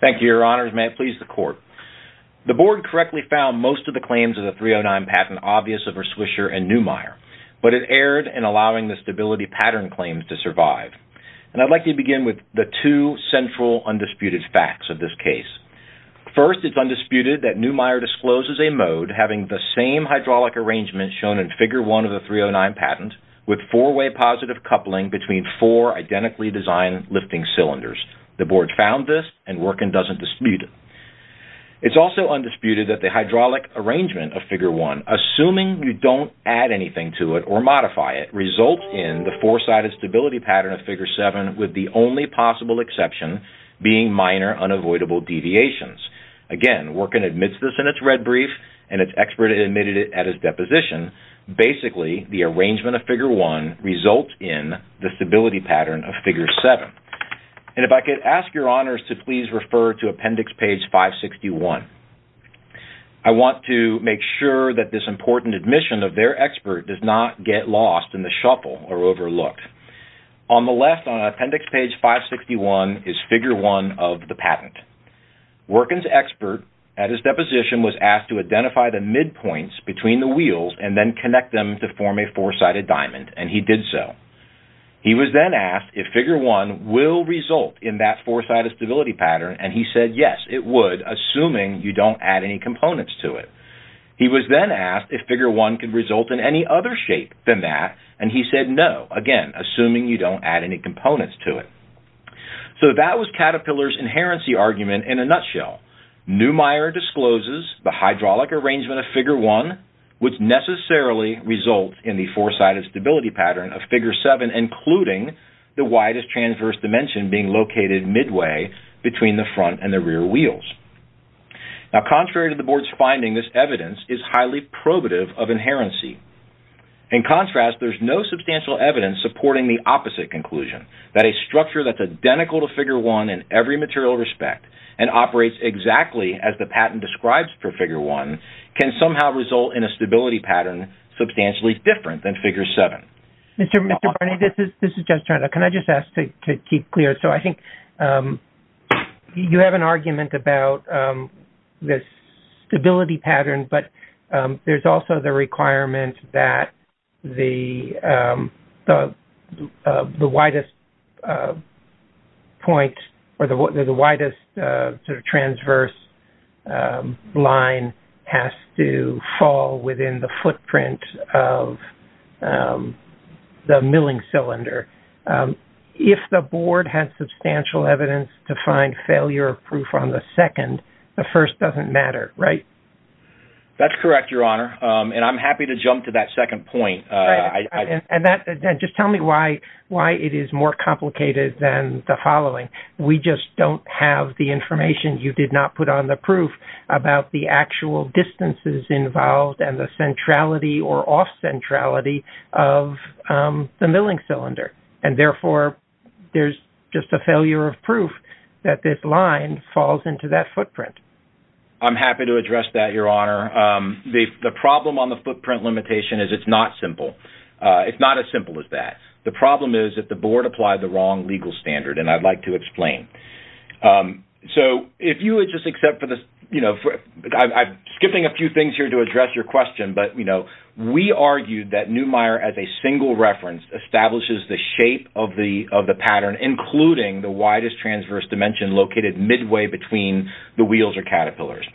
Thank you, Your Honors. May it please the Court. The Board correctly found most of the claims of the 309 patent obvious of Erswisher and Neumeier, but it erred in allowing the stability pattern claims to survive. And I'd like to begin with the two central undisputed facts of this case. First, it's undisputed that Neumeier discloses a mode having the same hydraulic arrangement shown in Figure 1 of the 309 patent, with four-way positive coupling between four identically designed lifting cylinders. The Board found this and Wirtgen doesn't dispute it. It's also undisputed that the hydraulic arrangement of Figure 1, assuming you don't add anything to it or modify it, results in the four-sided stability pattern of Figure 7, with the only possible exception being minor unavoidable deviations. Again, Wirtgen admits this in its red brief and its expert admitted it at its deposition. Basically, the arrangement of Figure 1 results in the stability pattern of Figure 7. And if I could ask Your Honors to please refer to Appendix Page 561. I want to make sure that this important admission of their expert does not get lost in the shuffle or overlooked. On the left on Appendix Page 561 is Figure 1 of the patent. Wirtgen's expert at his deposition was asked to identify the midpoints between the wheels and then connect them to form a four-sided diamond and he did so. He was then asked if Figure 1 will result in that four-sided stability pattern and he said yes, it would, assuming you don't add any components to it. He was then asked if Figure 1 could result in any other shape than that and he said no, again, assuming you don't add any components to it. So that was Caterpillar's inherency argument in a nutshell. Neumeier discloses the hydraulic arrangement of Figure 1 would necessarily result in the four-sided stability pattern of Figure 7 including the widest transverse dimension being located midway between the front and the rear wheels. Now, contrary to the board's finding, this evidence is highly probative of inherency. In contrast, there's no substantial evidence supporting the opposite conclusion, that a structure that's identical to Figure 1 in every material respect and operates exactly as the patent describes for Figure 1 can somehow result in a stability pattern substantially different than Figure 7. Mr. Barney, this is Jeff Turner. Can I just ask to keep clear? So I think you have an argument about this stability pattern but there's also the requirement that the widest point or the widest sort of transverse line has to fall within the footprint of the milling cylinder. If the board has substantial evidence to find failure proof on the second, the first doesn't matter, right? That's correct, Your Honor, and I'm happy to jump to that second point. And just tell me why it is more complicated than the following. We just don't have the information you did not put on the proof about the actual distances involved and the centrality or off-centrality of the milling cylinder. And therefore, there's just a failure of proof that this line falls into that footprint. I'm happy to address that, Your Honor. The problem on the footprint limitation is it's not simple. It's not as simple as that. The problem is if the board applied the wrong legal standard, and I'd like to explain. So if you would just accept for this, you know, I'm skipping a few things here to address your question, but, you know, we argued that Neumeier as a single reference establishes the shape of the pattern, including the widest transverse dimension located midway between the wheels or caterpillars.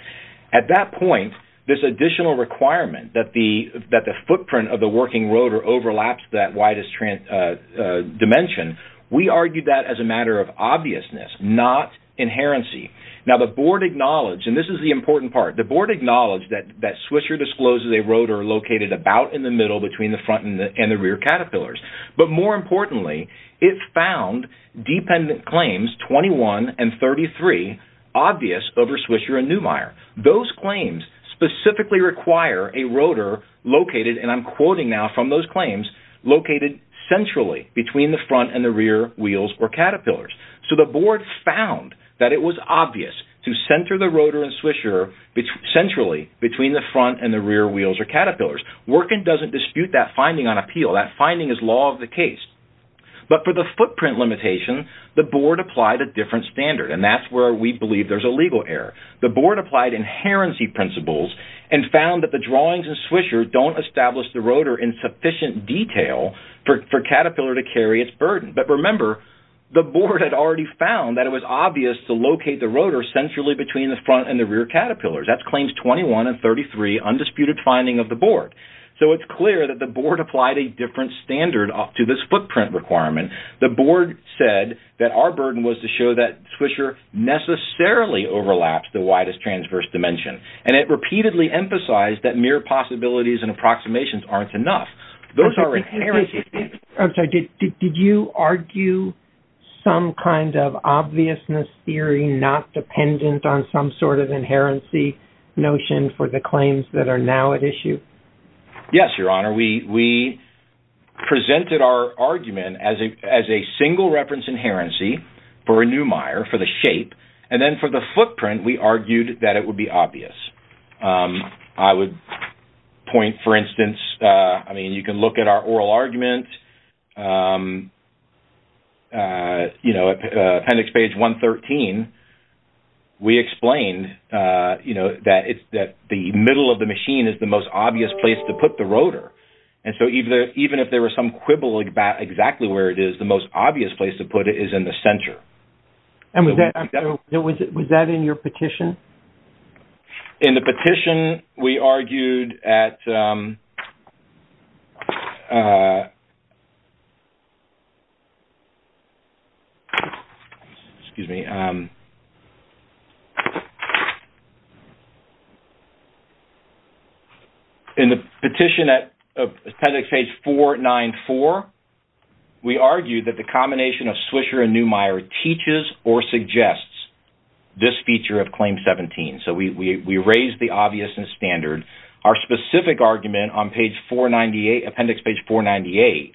At that point, this additional requirement that the footprint of the working rotor overlaps that widest dimension, we argued that as a matter of obviousness, not inherency. Now, the board acknowledged, and this is the important part, the board acknowledged that Swisher discloses a rotor located about in the middle between the front and the rear caterpillars. But more importantly, it found dependent claims 21 and 33 obvious over Swisher and Neumeier. Those claims specifically require a rotor located, and I'm quoting now from those claims, located centrally between the front and the rear wheels or caterpillars. So the board found that it was obvious to center the rotor in Swisher centrally between the front and the rear wheels or caterpillars. Workin doesn't dispute that finding on appeal. That finding is law of the case. But for the footprint limitation, the board applied a legal error. The board applied inherency principles and found that the drawings in Swisher don't establish the rotor in sufficient detail for Caterpillar to carry its burden. But remember, the board had already found that it was obvious to locate the rotor centrally between the front and the rear caterpillars. That's claims 21 and 33, undisputed finding of the board. So it's clear that the board applied a different standard to this footprint requirement. The board said that our burden was to show that Swisher necessarily overlaps the widest transverse dimension. And it repeatedly emphasized that mere possibilities and approximations aren't enough. Those are inherent. I'm sorry, did you argue some kind of obviousness theory not dependent on some sort of inherency notion for the claims that are now at issue? Yes, Your Honor. We presented our argument as a single reference inherency for a Neumeier, for the shape. And then for the footprint, we argued that it would be obvious. I would point for instance, I mean, you can look at our oral argument. You know, appendix page 113, we explained, you know, that it's that the middle of the machine is the most obvious place to put the rotor. And so even if there were some quibble about exactly where it is, the most obvious place to put it is in the center. And was that in your petition? In the petition, we argued at... Excuse me. In the petition at appendix page 494, we argued that the combination of Swisher and Neumeier teaches or suggests this feature of claim 17. So we raised the obviousness standard. Our specific argument on page 498, appendix page 498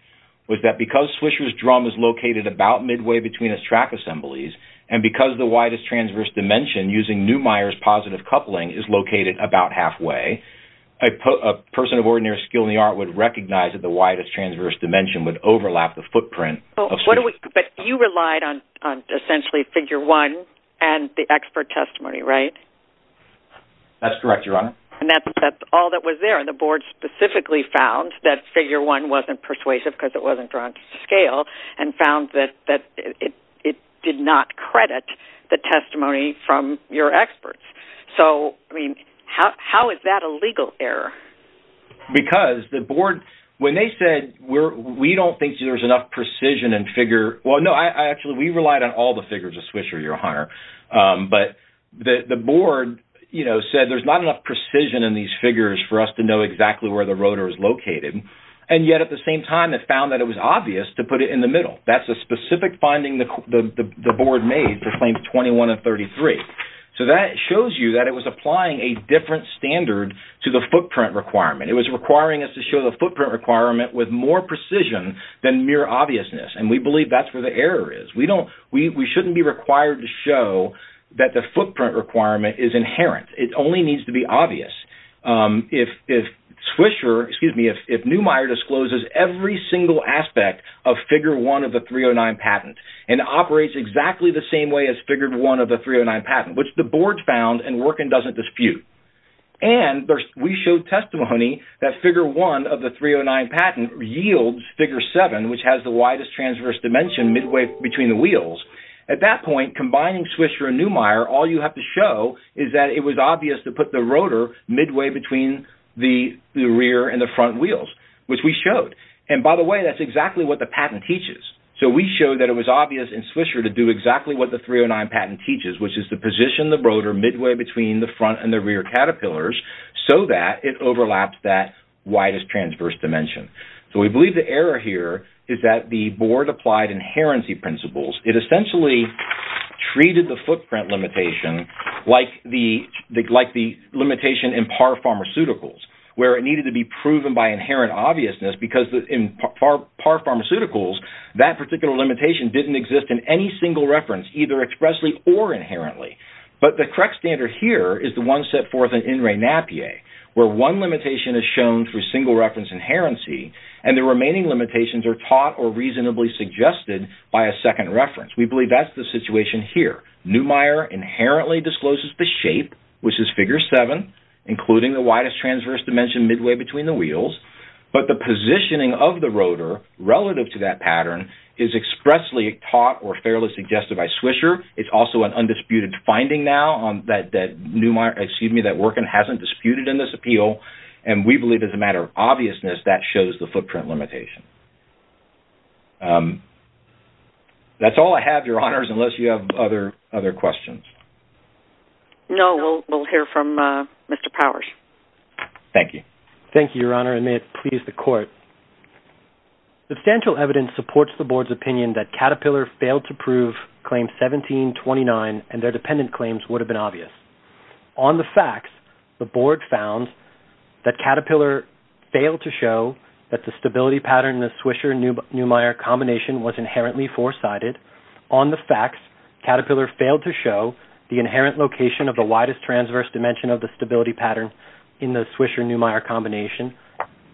was that because Swisher's drum is located about midway between his track assemblies, and because the widest transverse dimension using Neumeier's positive coupling is located about halfway, a person of ordinary skill in the art would recognize that the widest transverse dimension would overlap the footprint of Swisher's... But you relied on essentially figure one and the expert testimony, right? That's correct, Your Honor. And that's all that was there. And the board specifically found that figure one wasn't persuasive because it wasn't drawn to scale and found that it did not credit the testimony from your experts. So, I mean, how is that a legal error? Because the board, when they said, we don't think there's enough precision and figure... Well, no, actually, we relied on all the figures of Swisher, Your Honor. But the board said there's not enough precision in these figures for us to know exactly where the rotor is located. And yet at the same time, it found that it was obvious to put it in the middle. That's a specific finding the board made to claim 21 and 33. So that shows you that it was applying a different standard to the footprint requirement. It was requiring us to show the footprint requirement with more precision than mere obviousness. And we believe that's where the error is. We shouldn't be required to show that the footprint requirement is inherent. It only needs to be obvious. If Swisher, excuse me, if Neumeier discloses every single aspect of figure one of the 309 patent and operates exactly the same way as Neumeier, it doesn't work and doesn't dispute. And we showed testimony that figure one of the 309 patent yields figure seven, which has the widest transverse dimension midway between the wheels. At that point, combining Swisher and Neumeier, all you have to show is that it was obvious to put the rotor midway between the rear and the front wheels, which we showed. And by the way, that's exactly what the patent teaches. So we showed that it was obvious in Swisher to do exactly what the 309 patent teaches, which is to position the rotor midway between the front and the rear caterpillars so that it overlaps that widest transverse dimension. So we believe the error here is that the board applied inherency principles. It essentially treated the footprint limitation like the limitation in par pharmaceuticals, where it needed to be proven by inherent obviousness because in par pharmaceuticals, that particular limitation didn't exist in any single reference, either expressly or inherently. But the correct standard here is the one set forth in In Re Napier, where one limitation is shown through single reference inherency, and the remaining limitations are taught or reasonably suggested by a second reference. We believe that's the situation here. Neumeier inherently discloses the shape, which is figure seven, including the widest transverse dimension midway between the wheels, but the positioning of the rotor relative to that pattern is expressly taught or fairly suggested by Swisher. It's also an undisputed finding now that Neumeier, excuse me, that Workin hasn't disputed in this appeal, and we believe as a matter of obviousness, that shows the footprint limitation. That's all I have, Your Honors, unless you have other questions. No, we'll hear from Mr. Powers. Thank you. Thank you, Your Honor, and may it please the Court. Substantial evidence supports the Board's opinion that Caterpillar failed to prove Claim 1729 and their dependent claims would have been obvious. On the facts, the Board found that Caterpillar failed to show that the stability pattern in the Swisher-Neumeier combination was inherently four-sided. On the facts, Caterpillar failed to show the inherent location of the widest transverse dimension of the stability pattern in the Swisher-Neumeier combination,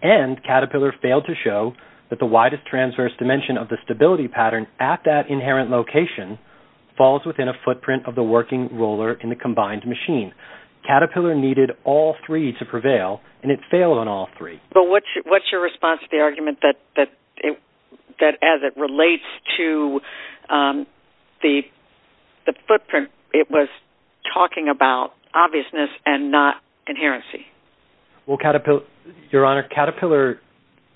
and Caterpillar failed to show that the widest transverse dimension of the stability pattern at that inherent location falls within a footprint of the working roller in the combined machine. Caterpillar needed all three to prevail, and it failed on all three. But what's your response to the argument that as it relates to the footprint, it was talking about obviousness and not inherency? Well, Your Honor, Caterpillar,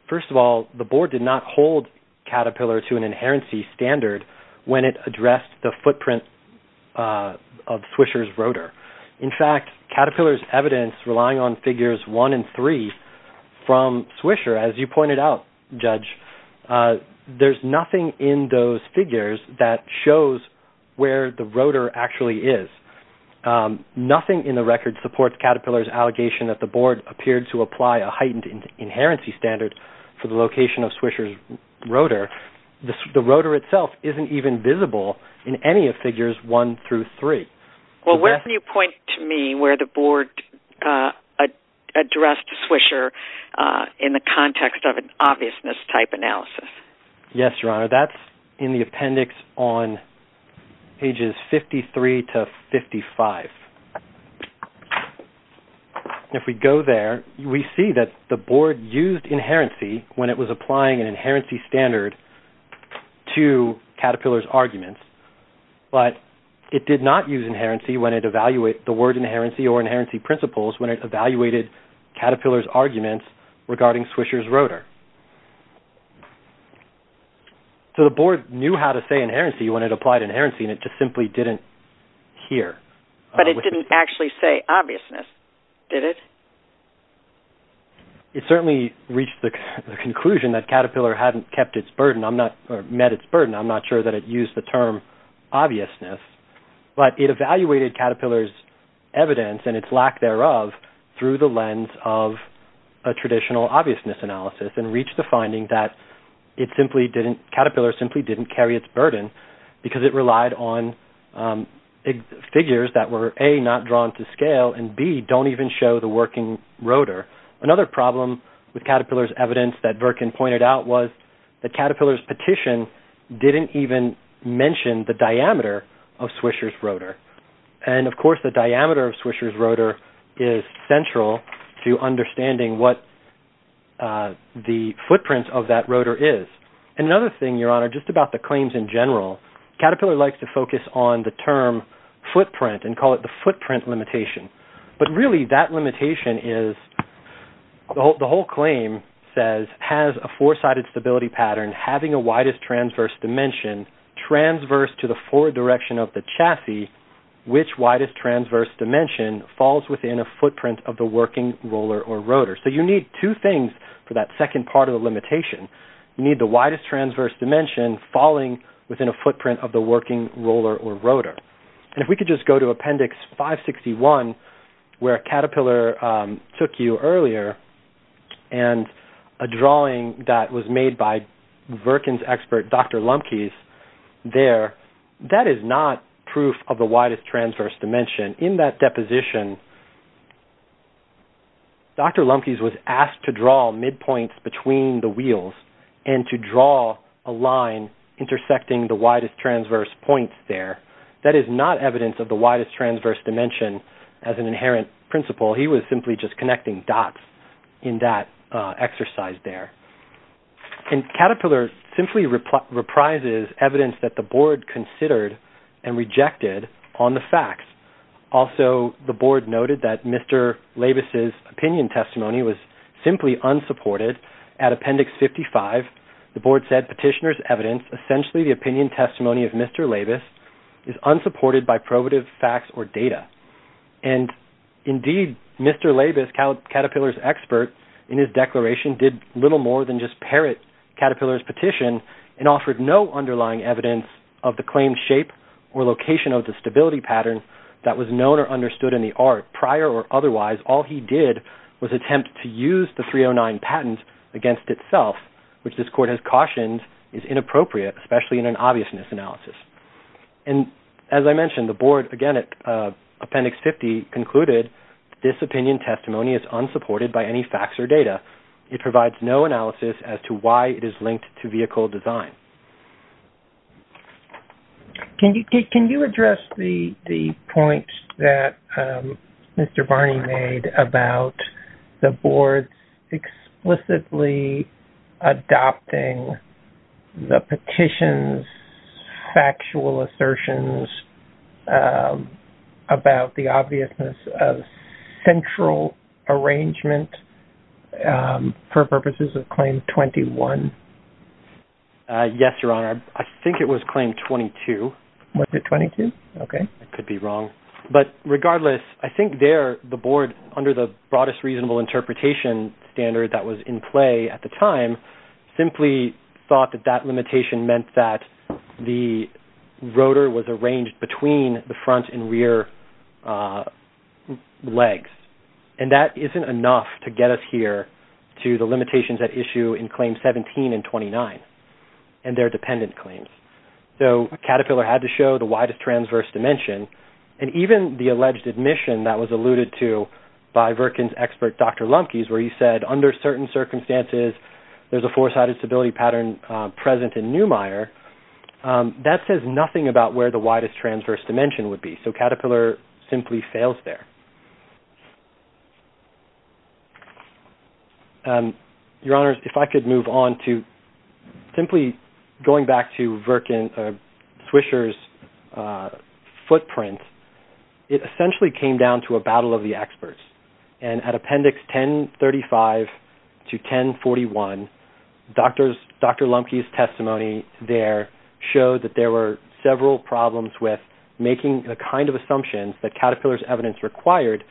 first of all, the Board did not hold Caterpillar to an inherency standard when it addressed the footprint of Swisher's rotor. In fact, Caterpillar's evidence relying on figures one and three from Swisher, as you pointed out, Judge, there's nothing in those figures that shows where the rotor actually is. Nothing in the record supports Caterpillar's allegation that the Board appeared to apply a heightened inherency standard for the location of Swisher's rotor. The rotor itself isn't even visible in any of figures one through three. Well, where can you point to me where the Board addressed Swisher in the context of an obviousness-type analysis? Yes, Your Honor, that's in the appendix on pages 53 to 55. If we go there, we see that the Board used inherency when it was applying an inherency standard to Caterpillar's arguments, but it did not use inherency when it evaluated-the word inherency or inherency principles when it evaluated Caterpillar's arguments regarding Swisher's rotor. So the Board knew how to say inherency when it applied inherency and it just simply didn't hear. But it didn't actually say obviousness, did it? It certainly reached the conclusion that Caterpillar hadn't kept its burden-or met its burden. I'm not sure that it used the term obviousness, but it evaluated Caterpillar's evidence and its lack thereof through the lens of a traditional obviousness analysis and reached the finding that Caterpillar simply didn't carry its burden because it relied on figures that were, A, not drawn to scale and, B, don't even show the working rotor. Another problem with Caterpillar's evidence that Virkin pointed out was that Caterpillar's petition didn't even mention the diameter of Swisher's rotor. And, of course, the diameter of Swisher's rotor is central to understanding what the footprint of that rotor is. Another thing, Your Honor, just about the claims in general-Caterpillar likes to focus on the term footprint and call it the footprint limitation. But really that limitation is-the whole claim says, has a four-sided stability pattern having a widest transverse dimension transverse to the forward direction of the chassis, which widest transverse dimension falls within a footprint of the working roller or rotor? So you need two things for that second part of the limitation. You need the widest transverse dimension falling within a footprint of the working roller or rotor. And if we could just go to Appendix 561, where Caterpillar took you earlier, and a drawing that was made by Caterpillar there, that is not proof of the widest transverse dimension. In that deposition, Dr. Lumpkins was asked to draw midpoints between the wheels and to draw a line intersecting the widest transverse points there. That is not evidence of the widest transverse dimension as an inherent principle. He was simply just connecting dots in that exercise there. And Caterpillar simply reprises evidence that the board considered and rejected on the facts. Also the board noted that Mr. Laibus's opinion testimony was simply unsupported. At Appendix 55, the board said, petitioner's evidence, essentially the opinion testimony of Mr. Laibus is unsupported by probative facts or data. And indeed, Mr. Laibus, Caterpillar's expert, in his declaration, did little more than just parrot Caterpillar's petition and offered no underlying evidence of the claimed shape or location of the stability pattern that was known or understood in the art. Prior or otherwise, all he did was attempt to use the 309 patent against itself, which this court has cautioned is inappropriate, especially in an obviousness analysis. And as I mentioned, the board, again, at Appendix 50, concluded this opinion testimony is unsupported by any facts or data. It provides no analysis as to why it is linked to vehicle design. Can you address the point that Mr. Barney made about the board explicitly adopting the central arrangement for purposes of Claim 21? Yes, Your Honor. I think it was Claim 22. Was it 22? Okay. I could be wrong. But regardless, I think there, the board, under the broadest reasonable interpretation standard that was in play at the time, simply thought that that limitation meant that the rotor was arranged between the front and rear legs. And that isn't enough to get us here to the limitations at issue in Claim 17 and 29 and their dependent claims. So Caterpillar had to show the widest transverse dimension. And even the alleged admission that was alluded to by Virkin's expert, Dr. Lumpkins, where he said, under certain circumstances, there's a four-sided stability pattern present in Neumeyer, that says nothing about where the widest transverse dimension would be. So Caterpillar simply fails there. Your Honor, if I could move on to simply going back to Swisher's footprint, it essentially came down to a battle of the experts. And at Appendix 1035 to 1041, Dr. Lumpkins' testimony there showed that there were several problems with making the kind of assumptions that Caterpillar's evidence required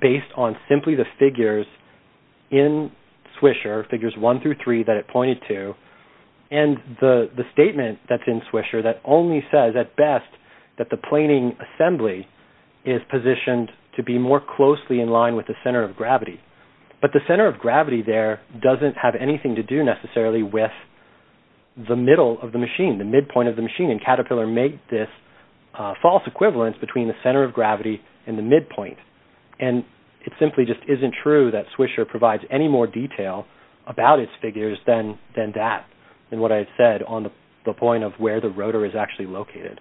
based on simply the figures in Swisher, figures one through three that it pointed to, and the statement that's in Swisher that only says, at best, that the rotor is positioned to be more closely in line with the center of gravity. But the center of gravity there doesn't have anything to do necessarily with the middle of the machine, the midpoint of the machine. And Caterpillar made this false equivalence between the center of gravity and the midpoint. And it simply just isn't true that Swisher provides any more detail about its figures than that, in what I've said, on the point of where the rotor is actually located.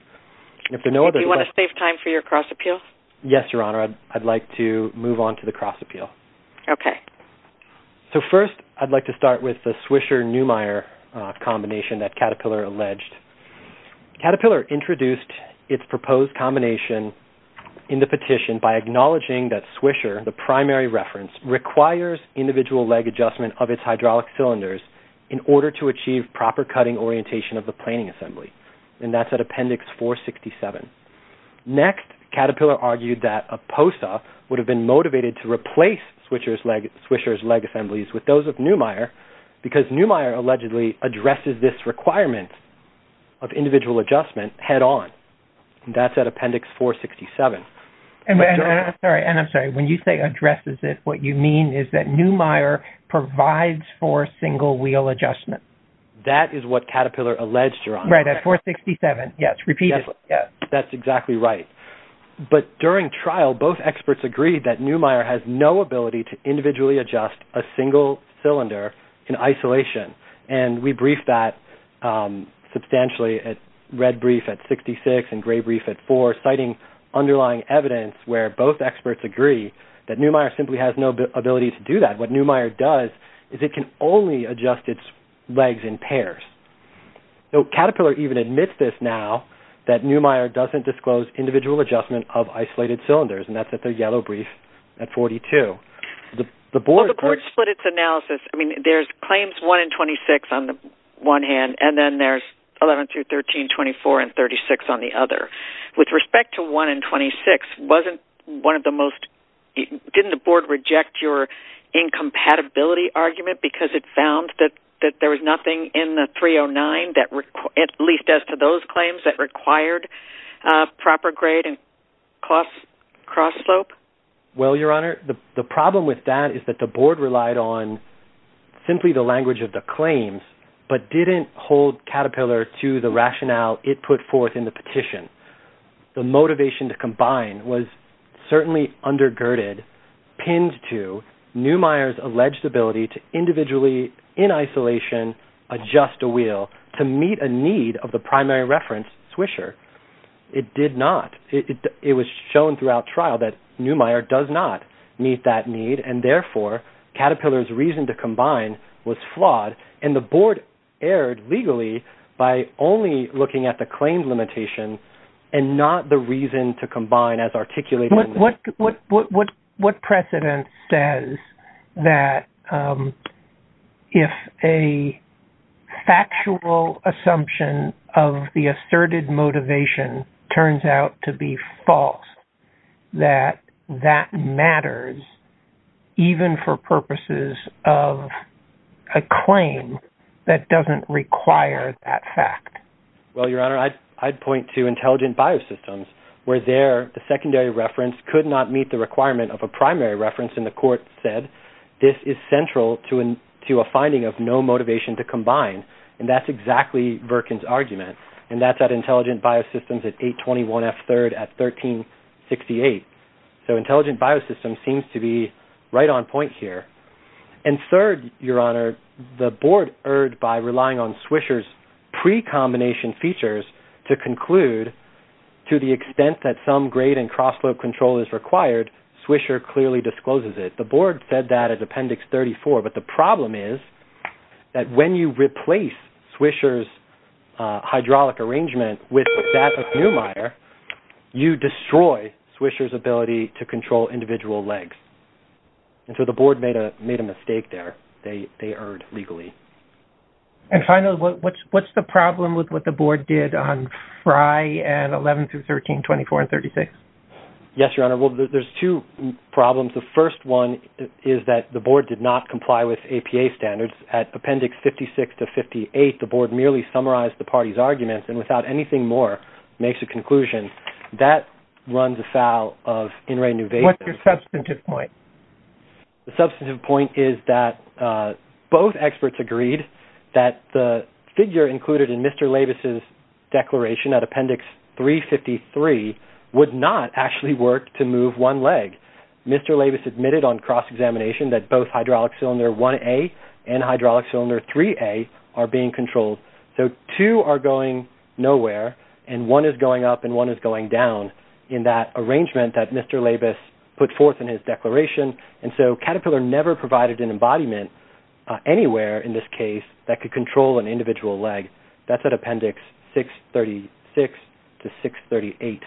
Do you want to save time for your cross-appeal? Yes, Your Honor. I'd like to move on to the cross-appeal. Okay. So first, I'd like to start with the Swisher-Newmeyer combination that Caterpillar alleged. Caterpillar introduced its proposed combination in the petition by acknowledging that Swisher, the primary reference, requires individual leg adjustment of its hydraulic cylinders in order to achieve proper cutting orientation of the planing assembly. And that's at Appendix 467. Next, Caterpillar argued that a POSA would have been motivated to replace Swisher's leg assemblies with those of Newmeyer, because Newmeyer allegedly addresses this requirement of individual adjustment head-on. And that's at Appendix 467. And I'm sorry, when you say addresses it, what you mean is that Newmeyer provides for single-wheel adjustment. That is what Caterpillar alleged, Your Honor. Right, at 467. Yes, repeat it. That's exactly right. But during trial, both experts agreed that Newmeyer has no ability to individually adjust a single cylinder in isolation. And we briefed that substantially at red brief at 66 and gray brief at 4, citing underlying evidence where both experts agree that Newmeyer simply has no ability to do that. What Newmeyer does is it can only adjust its legs in pairs. So Caterpillar even admits this now, that Newmeyer doesn't disclose individual adjustment of isolated cylinders, and that's at their yellow brief at 42. The board split its analysis. I mean, there's claims 1 and 26 on the one hand, and then there's 11 through 13, 24 and 36 on the other. With respect to 1 and 26, wasn't one of the most – didn't the board reject your incompatibility argument because it found that there was nothing in the 309, at least as to those claims, that required proper grade and cross slope? Well, Your Honor, the problem with that is that the board relied on simply the language of the claims, but didn't hold Caterpillar to the rationale it put forth in the petition. The motivation to combine was certainly undergirded, pinned to Newmeyer's alleged ability to in isolation adjust a wheel to meet a need of the primary reference swisher. It did not. It was shown throughout trial that Newmeyer does not meet that need, and therefore Caterpillar's reason to combine was flawed, and the board erred legally by only looking at the claims limitation and not the reason to combine as articulated. What precedent says that if a factual assumption of the asserted motivation turns out to be false, that that matters even for purposes of a claim that doesn't require that fact? Well, Your Honor, I'd point to Intelligent Biosystems, where there the secondary reference could not meet the requirement of a primary reference, and the court said this is central to a finding of no motivation to combine, and that's exactly Virkin's argument, and that's at Intelligent Biosystems at 821 F. 3rd at 1368. So Intelligent Biosystems seems to be right on point here. And third, Your Honor, the board erred by relying on Swisher's pre-combination features to conclude to the extent that some grade and cross-slope control is required, Swisher clearly discloses it. The board said that at Appendix 34, but the problem is that when you replace Swisher's hydraulic arrangement with that of Newmeyer, you destroy Swisher's ability to control individual legs. And so the board made a mistake there. They erred legally. And finally, what's the problem with what the board did on Fri and 11 through 13, 24, and 36? Yes, Your Honor, well, there's two problems. The first one is that the board did not comply with APA standards. At Appendix 56 to 58, the board merely summarized the party's arguments and without anything more makes a conclusion. That runs afoul of In re Nu Ve. What's your substantive point? The substantive point is that both experts agreed that the figure included in Mr. Labus's declaration at Appendix 353 would not actually work to move one leg. Mr. Labus admitted on cross-examination that both hydraulic cylinder 1A and hydraulic cylinder 3A are being controlled. So two are going nowhere, and one is going up and one is going down in that arrangement that Mr. Labus put forth in his declaration. And so Caterpillar never provided an embodiment anywhere in this case that could control an individual leg. That's at Appendix 636 to 638.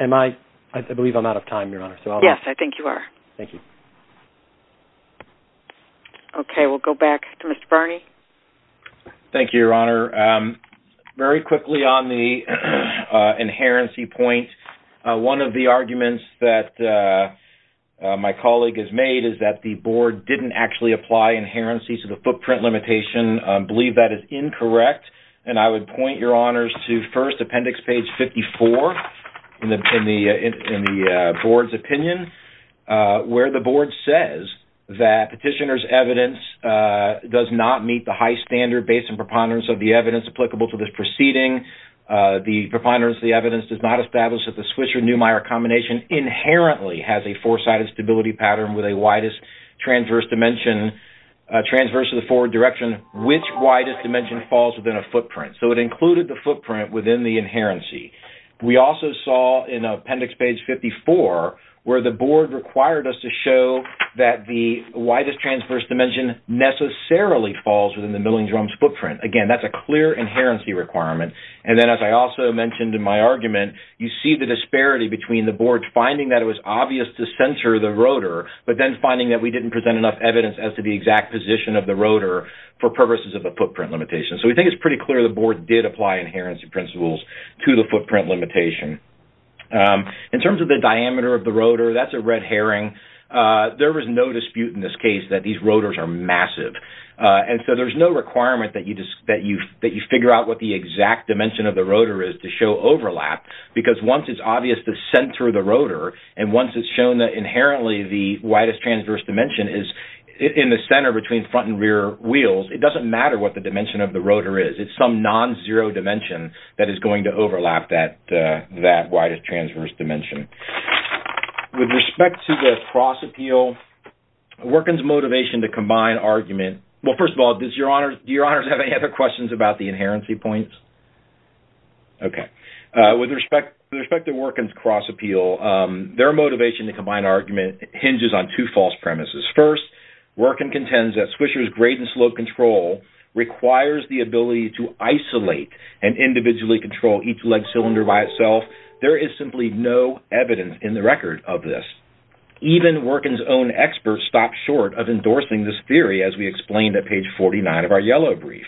Am I... I believe I'm out of time, Your Honor. Yes, I think you are. Thank you. Okay, we'll go back to Mr. Barney. Thank you, Your Honor. Very quickly on the inherency point, one of the arguments that my colleague has made is that the board didn't actually apply inherency to the footprint limitation. I believe that is incorrect, and I would point Your Honors to first Appendix page 54 in the board's opinion where the board says that petitioner's evidence does not meet the high standard based on preponderance of the evidence applicable to this proceeding. The preponderance of the evidence does not establish that the Swisher-Newmeyer combination inherently has a foresighted stability pattern with a widest transverse of the forward direction which widest dimension falls within a footprint. So it included the footprint within the inherency. We also saw in Appendix page 54 where the board required us to show that the widest dimension falls within the milling drum's footprint. Again, that's a clear inherency requirement. And then as I also mentioned in my argument, you see the disparity between the board finding that it was obvious to censor the rotor, but then finding that we didn't present enough evidence as to the exact position of the rotor for purposes of the footprint limitation. So we think it's pretty clear the board did apply inherency principles to the footprint limitation. In terms of the diameter of the rotor, that's a red herring. There was no dispute in this case that these rotors are massive. And so there's no requirement that you figure out what the exact dimension of the rotor is to show overlap because once it's obvious to center the rotor and once it's shown that inherently the widest transverse dimension is in the center between front and rear wheels, it doesn't matter what the dimension of the rotor is. It's some non-zero dimension that is going to overlap that widest transverse dimension. With respect to their cross-appeal, Workin's motivation to combine argument... Well, first of all, do your honors have any other questions about the inherency points? Okay. With respect to Workin's cross-appeal, their motivation to combine argument hinges on two false premises. First, Workin contends that Swisher's grade and slope control requires the ability to evidence in the record of this. Even Workin's own experts stopped short of endorsing this theory as we explained at page 49 of our yellow brief.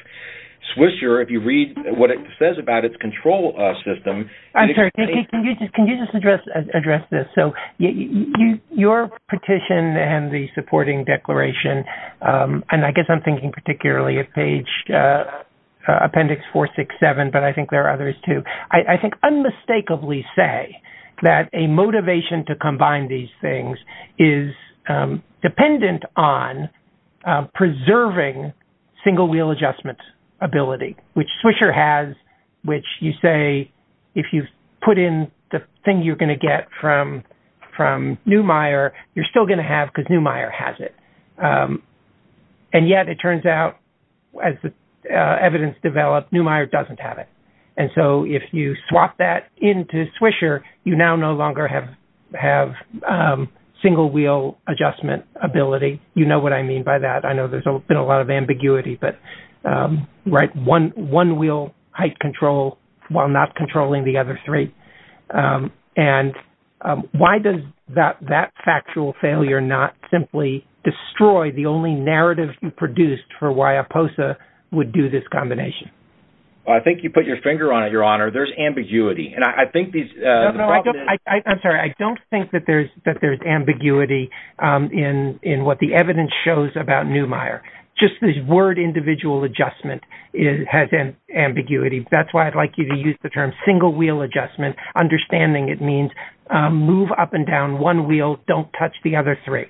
Swisher, if you read what it says about its control system... I'm sorry. Can you just address this? So your petition and the supporting declaration, and I guess I'm thinking particularly of page appendix 467, but I think there are others too, I think unmistakably say that a motivation to combine these things is dependent on preserving single wheel adjustment ability, which Swisher has, which you say, if you put in the thing you're going to get from Neumeier, you're still going to have because Neumeier has it. And yet, it turns out, as the evidence developed, Neumeier doesn't have it. And so if you swap that into Swisher, you now no longer have single wheel adjustment ability. You know what I mean by that. I know there's been a lot of ambiguity, but right, one wheel height control while not controlling the other three. And why does that factual failure not simply destroy the only narrative you produced for why a POSA would do this combination? I think you put your finger on it, Your Honor, there's ambiguity. And I think these... I'm sorry, I don't think that there's that there's ambiguity in what the evidence shows about Neumeier. Just this word individual adjustment has an ambiguity. That's why I'd like you to use the term single wheel adjustment, understanding it means move up and down one wheel, don't touch the other three.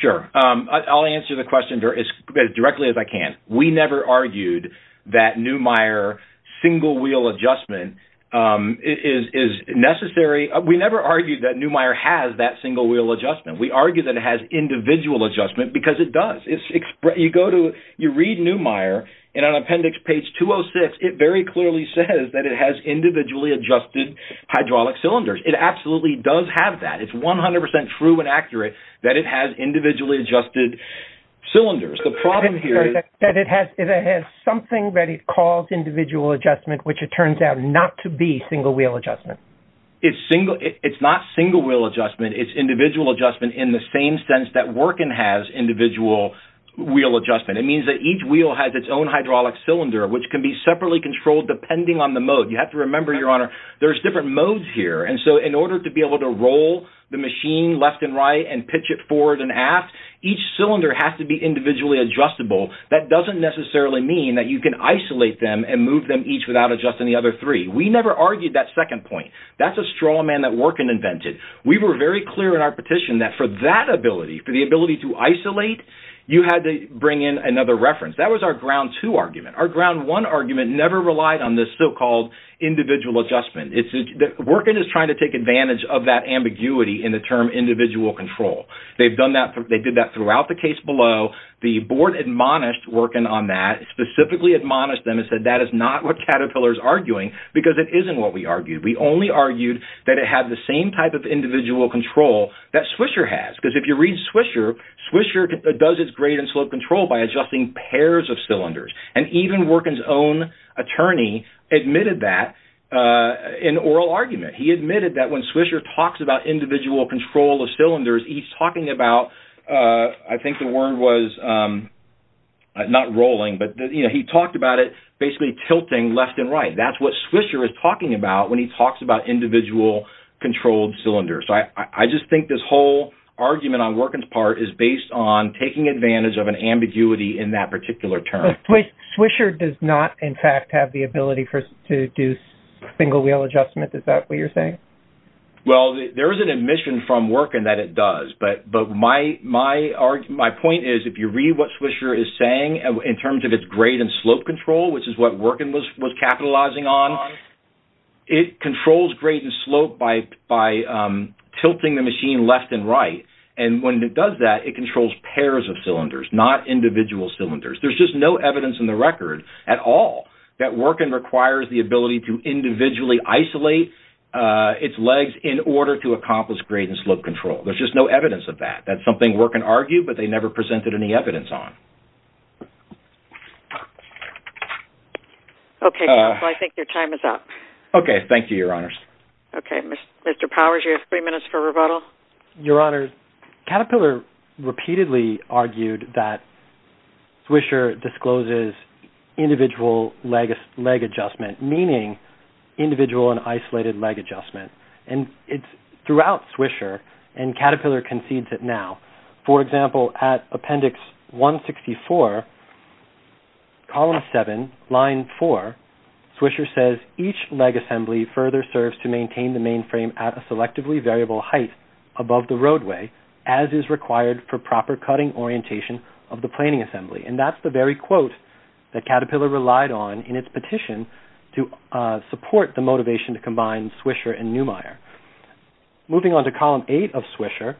Sure. I'll answer the question as directly as I can. We never argued that Neumeier single wheel adjustment is necessary. We never argued that Neumeier has that single wheel adjustment. We argue that it has individual adjustment because it does. You go to you read Neumeier, and on appendix page 206, it very clearly says that it has individually adjusted hydraulic cylinders. It absolutely does have that. It's 100% true and accurate that it has individually adjusted cylinders. The problem here is... That it has something that it calls individual adjustment, which it turns out not to be single wheel adjustment. It's single. It's not single wheel adjustment. It's individual adjustment in the same sense that Workin has individual wheel adjustment. It means that each wheel has its own hydraulic cylinder, which can be separately controlled depending on the mode. You have to remember, Your Honor, there's different modes here. And so in order to be able to machine left and right and pitch it forward and aft, each cylinder has to be individually adjustable. That doesn't necessarily mean that you can isolate them and move them each without adjusting the other three. We never argued that second point. That's a straw man that Workin invented. We were very clear in our petition that for that ability, for the ability to isolate, you had to bring in another reference. That was our ground two argument. Our ground one argument never relied on this so-called individual adjustment. Workin is trying to take advantage of that term individual control. They've done that. They did that throughout the case below. The board admonished Workin on that, specifically admonished them and said that is not what Caterpillar is arguing because it isn't what we argued. We only argued that it had the same type of individual control that Swisher has. Because if you read Swisher, Swisher does its grade and slope control by adjusting pairs of cylinders. And even Workin's own attorney admitted that in oral argument. He admitted that when Swisher talks about individual control of cylinders, he's talking about, I think the word was not rolling, but he talked about it basically tilting left and right. That's what Swisher is talking about when he talks about individual controlled cylinders. So I just think this whole argument on Workin's part is based on taking advantage of an ambiguity in that particular term. Swisher does not, in fact, have the ability to do single wheel adjustment. Is that what you're saying? Well, there is an admission from Workin that it does. But my point is, if you read what Swisher is saying in terms of its grade and slope control, which is what Workin was capitalizing on, it controls grade and slope by tilting the machine left and right. And when it does that, it controls pairs of cylinders, not individual cylinders. There's just no evidence in the record at all that Workin requires the ability to individually isolate its legs in order to accomplish grade and slope control. There's just no evidence of that. That's something Workin argued, but they never presented any evidence on. Okay. Well, I think your time is up. Okay. Thank you, Your Honors. Okay. Mr. Powers, you have three minutes for rebuttal. Your Honors, Caterpillar repeatedly argued that Swisher discloses individual leg adjustment, meaning individual and isolated leg adjustment. And it's throughout Swisher, and Caterpillar concedes it now. For example, at Appendix 164, Column 7, Line 4, Swisher says, each leg assembly further serves to maintain the mainframe at a selectively variable height above the roadway, as is required for proper cutting orientation of the planing assembly. And that's the very quote that Caterpillar relied on in its petition to support the motivation to combine Swisher and Neumeier. Moving on to Column 8 of Swisher,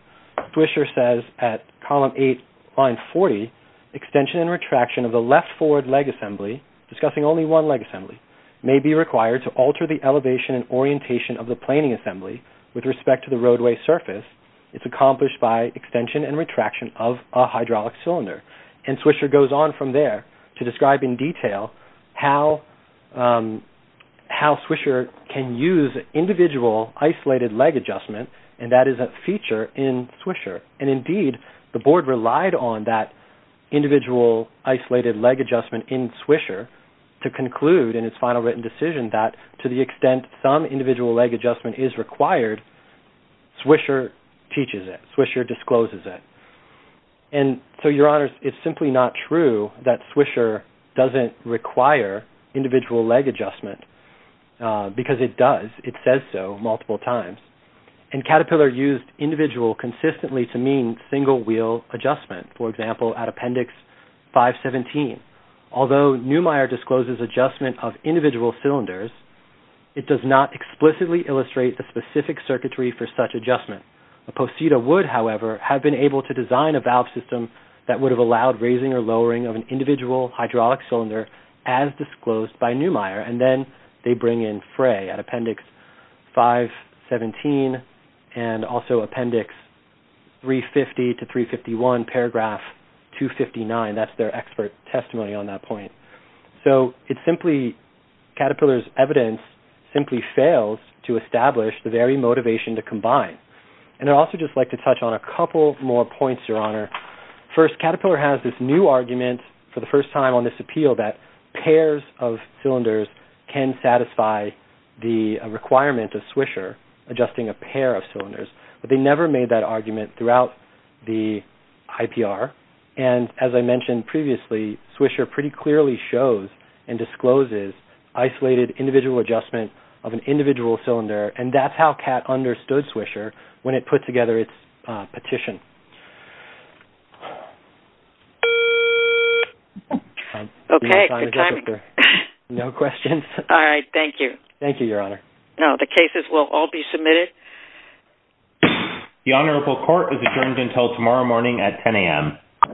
Swisher says at Column 8, Line 40, extension and retraction of the left forward leg assembly, discussing only one leg assembly, may be required to alter the elevation and orientation of the planing assembly with respect to the roadway surface. It's accomplished by extension and retraction of a hydraulic cylinder. And Swisher goes on from there to describe in detail how Swisher can use individual isolated leg adjustment, and that is a feature in Swisher. And indeed, the board relied on that individual isolated leg adjustment in Swisher to conclude in its final written decision that to the extent some individual leg adjustment is required, Swisher teaches it, Swisher discloses it. And so, Your Honors, it's simply not true that Swisher doesn't require individual leg adjustment because it does. It says so multiple times. And Caterpillar used individual consistently to mean single wheel adjustment, for example, at Appendix 517. Although Neumeier discloses adjustment of individual cylinders, it does not explicitly illustrate the specific circuitry for such adjustment. Posita would, however, have been able to design a valve system that would have allowed raising or lowering of an individual hydraulic cylinder as disclosed by Neumeier. And then they bring in Frey at Appendix 517 and also Appendix 350 to 351, paragraph 259. That's their expert testimony on that point. So it's simply Caterpillar's motivation to combine. And I'd also just like to touch on a couple more points, Your Honor. First, Caterpillar has this new argument for the first time on this appeal that pairs of cylinders can satisfy the requirement of Swisher adjusting a pair of cylinders. But they never made that argument throughout the IPR. And as I mentioned previously, Swisher pretty clearly shows and discloses isolated individual adjustment of an individual cylinder. And that's how Catt understood Swisher when it put together its petition.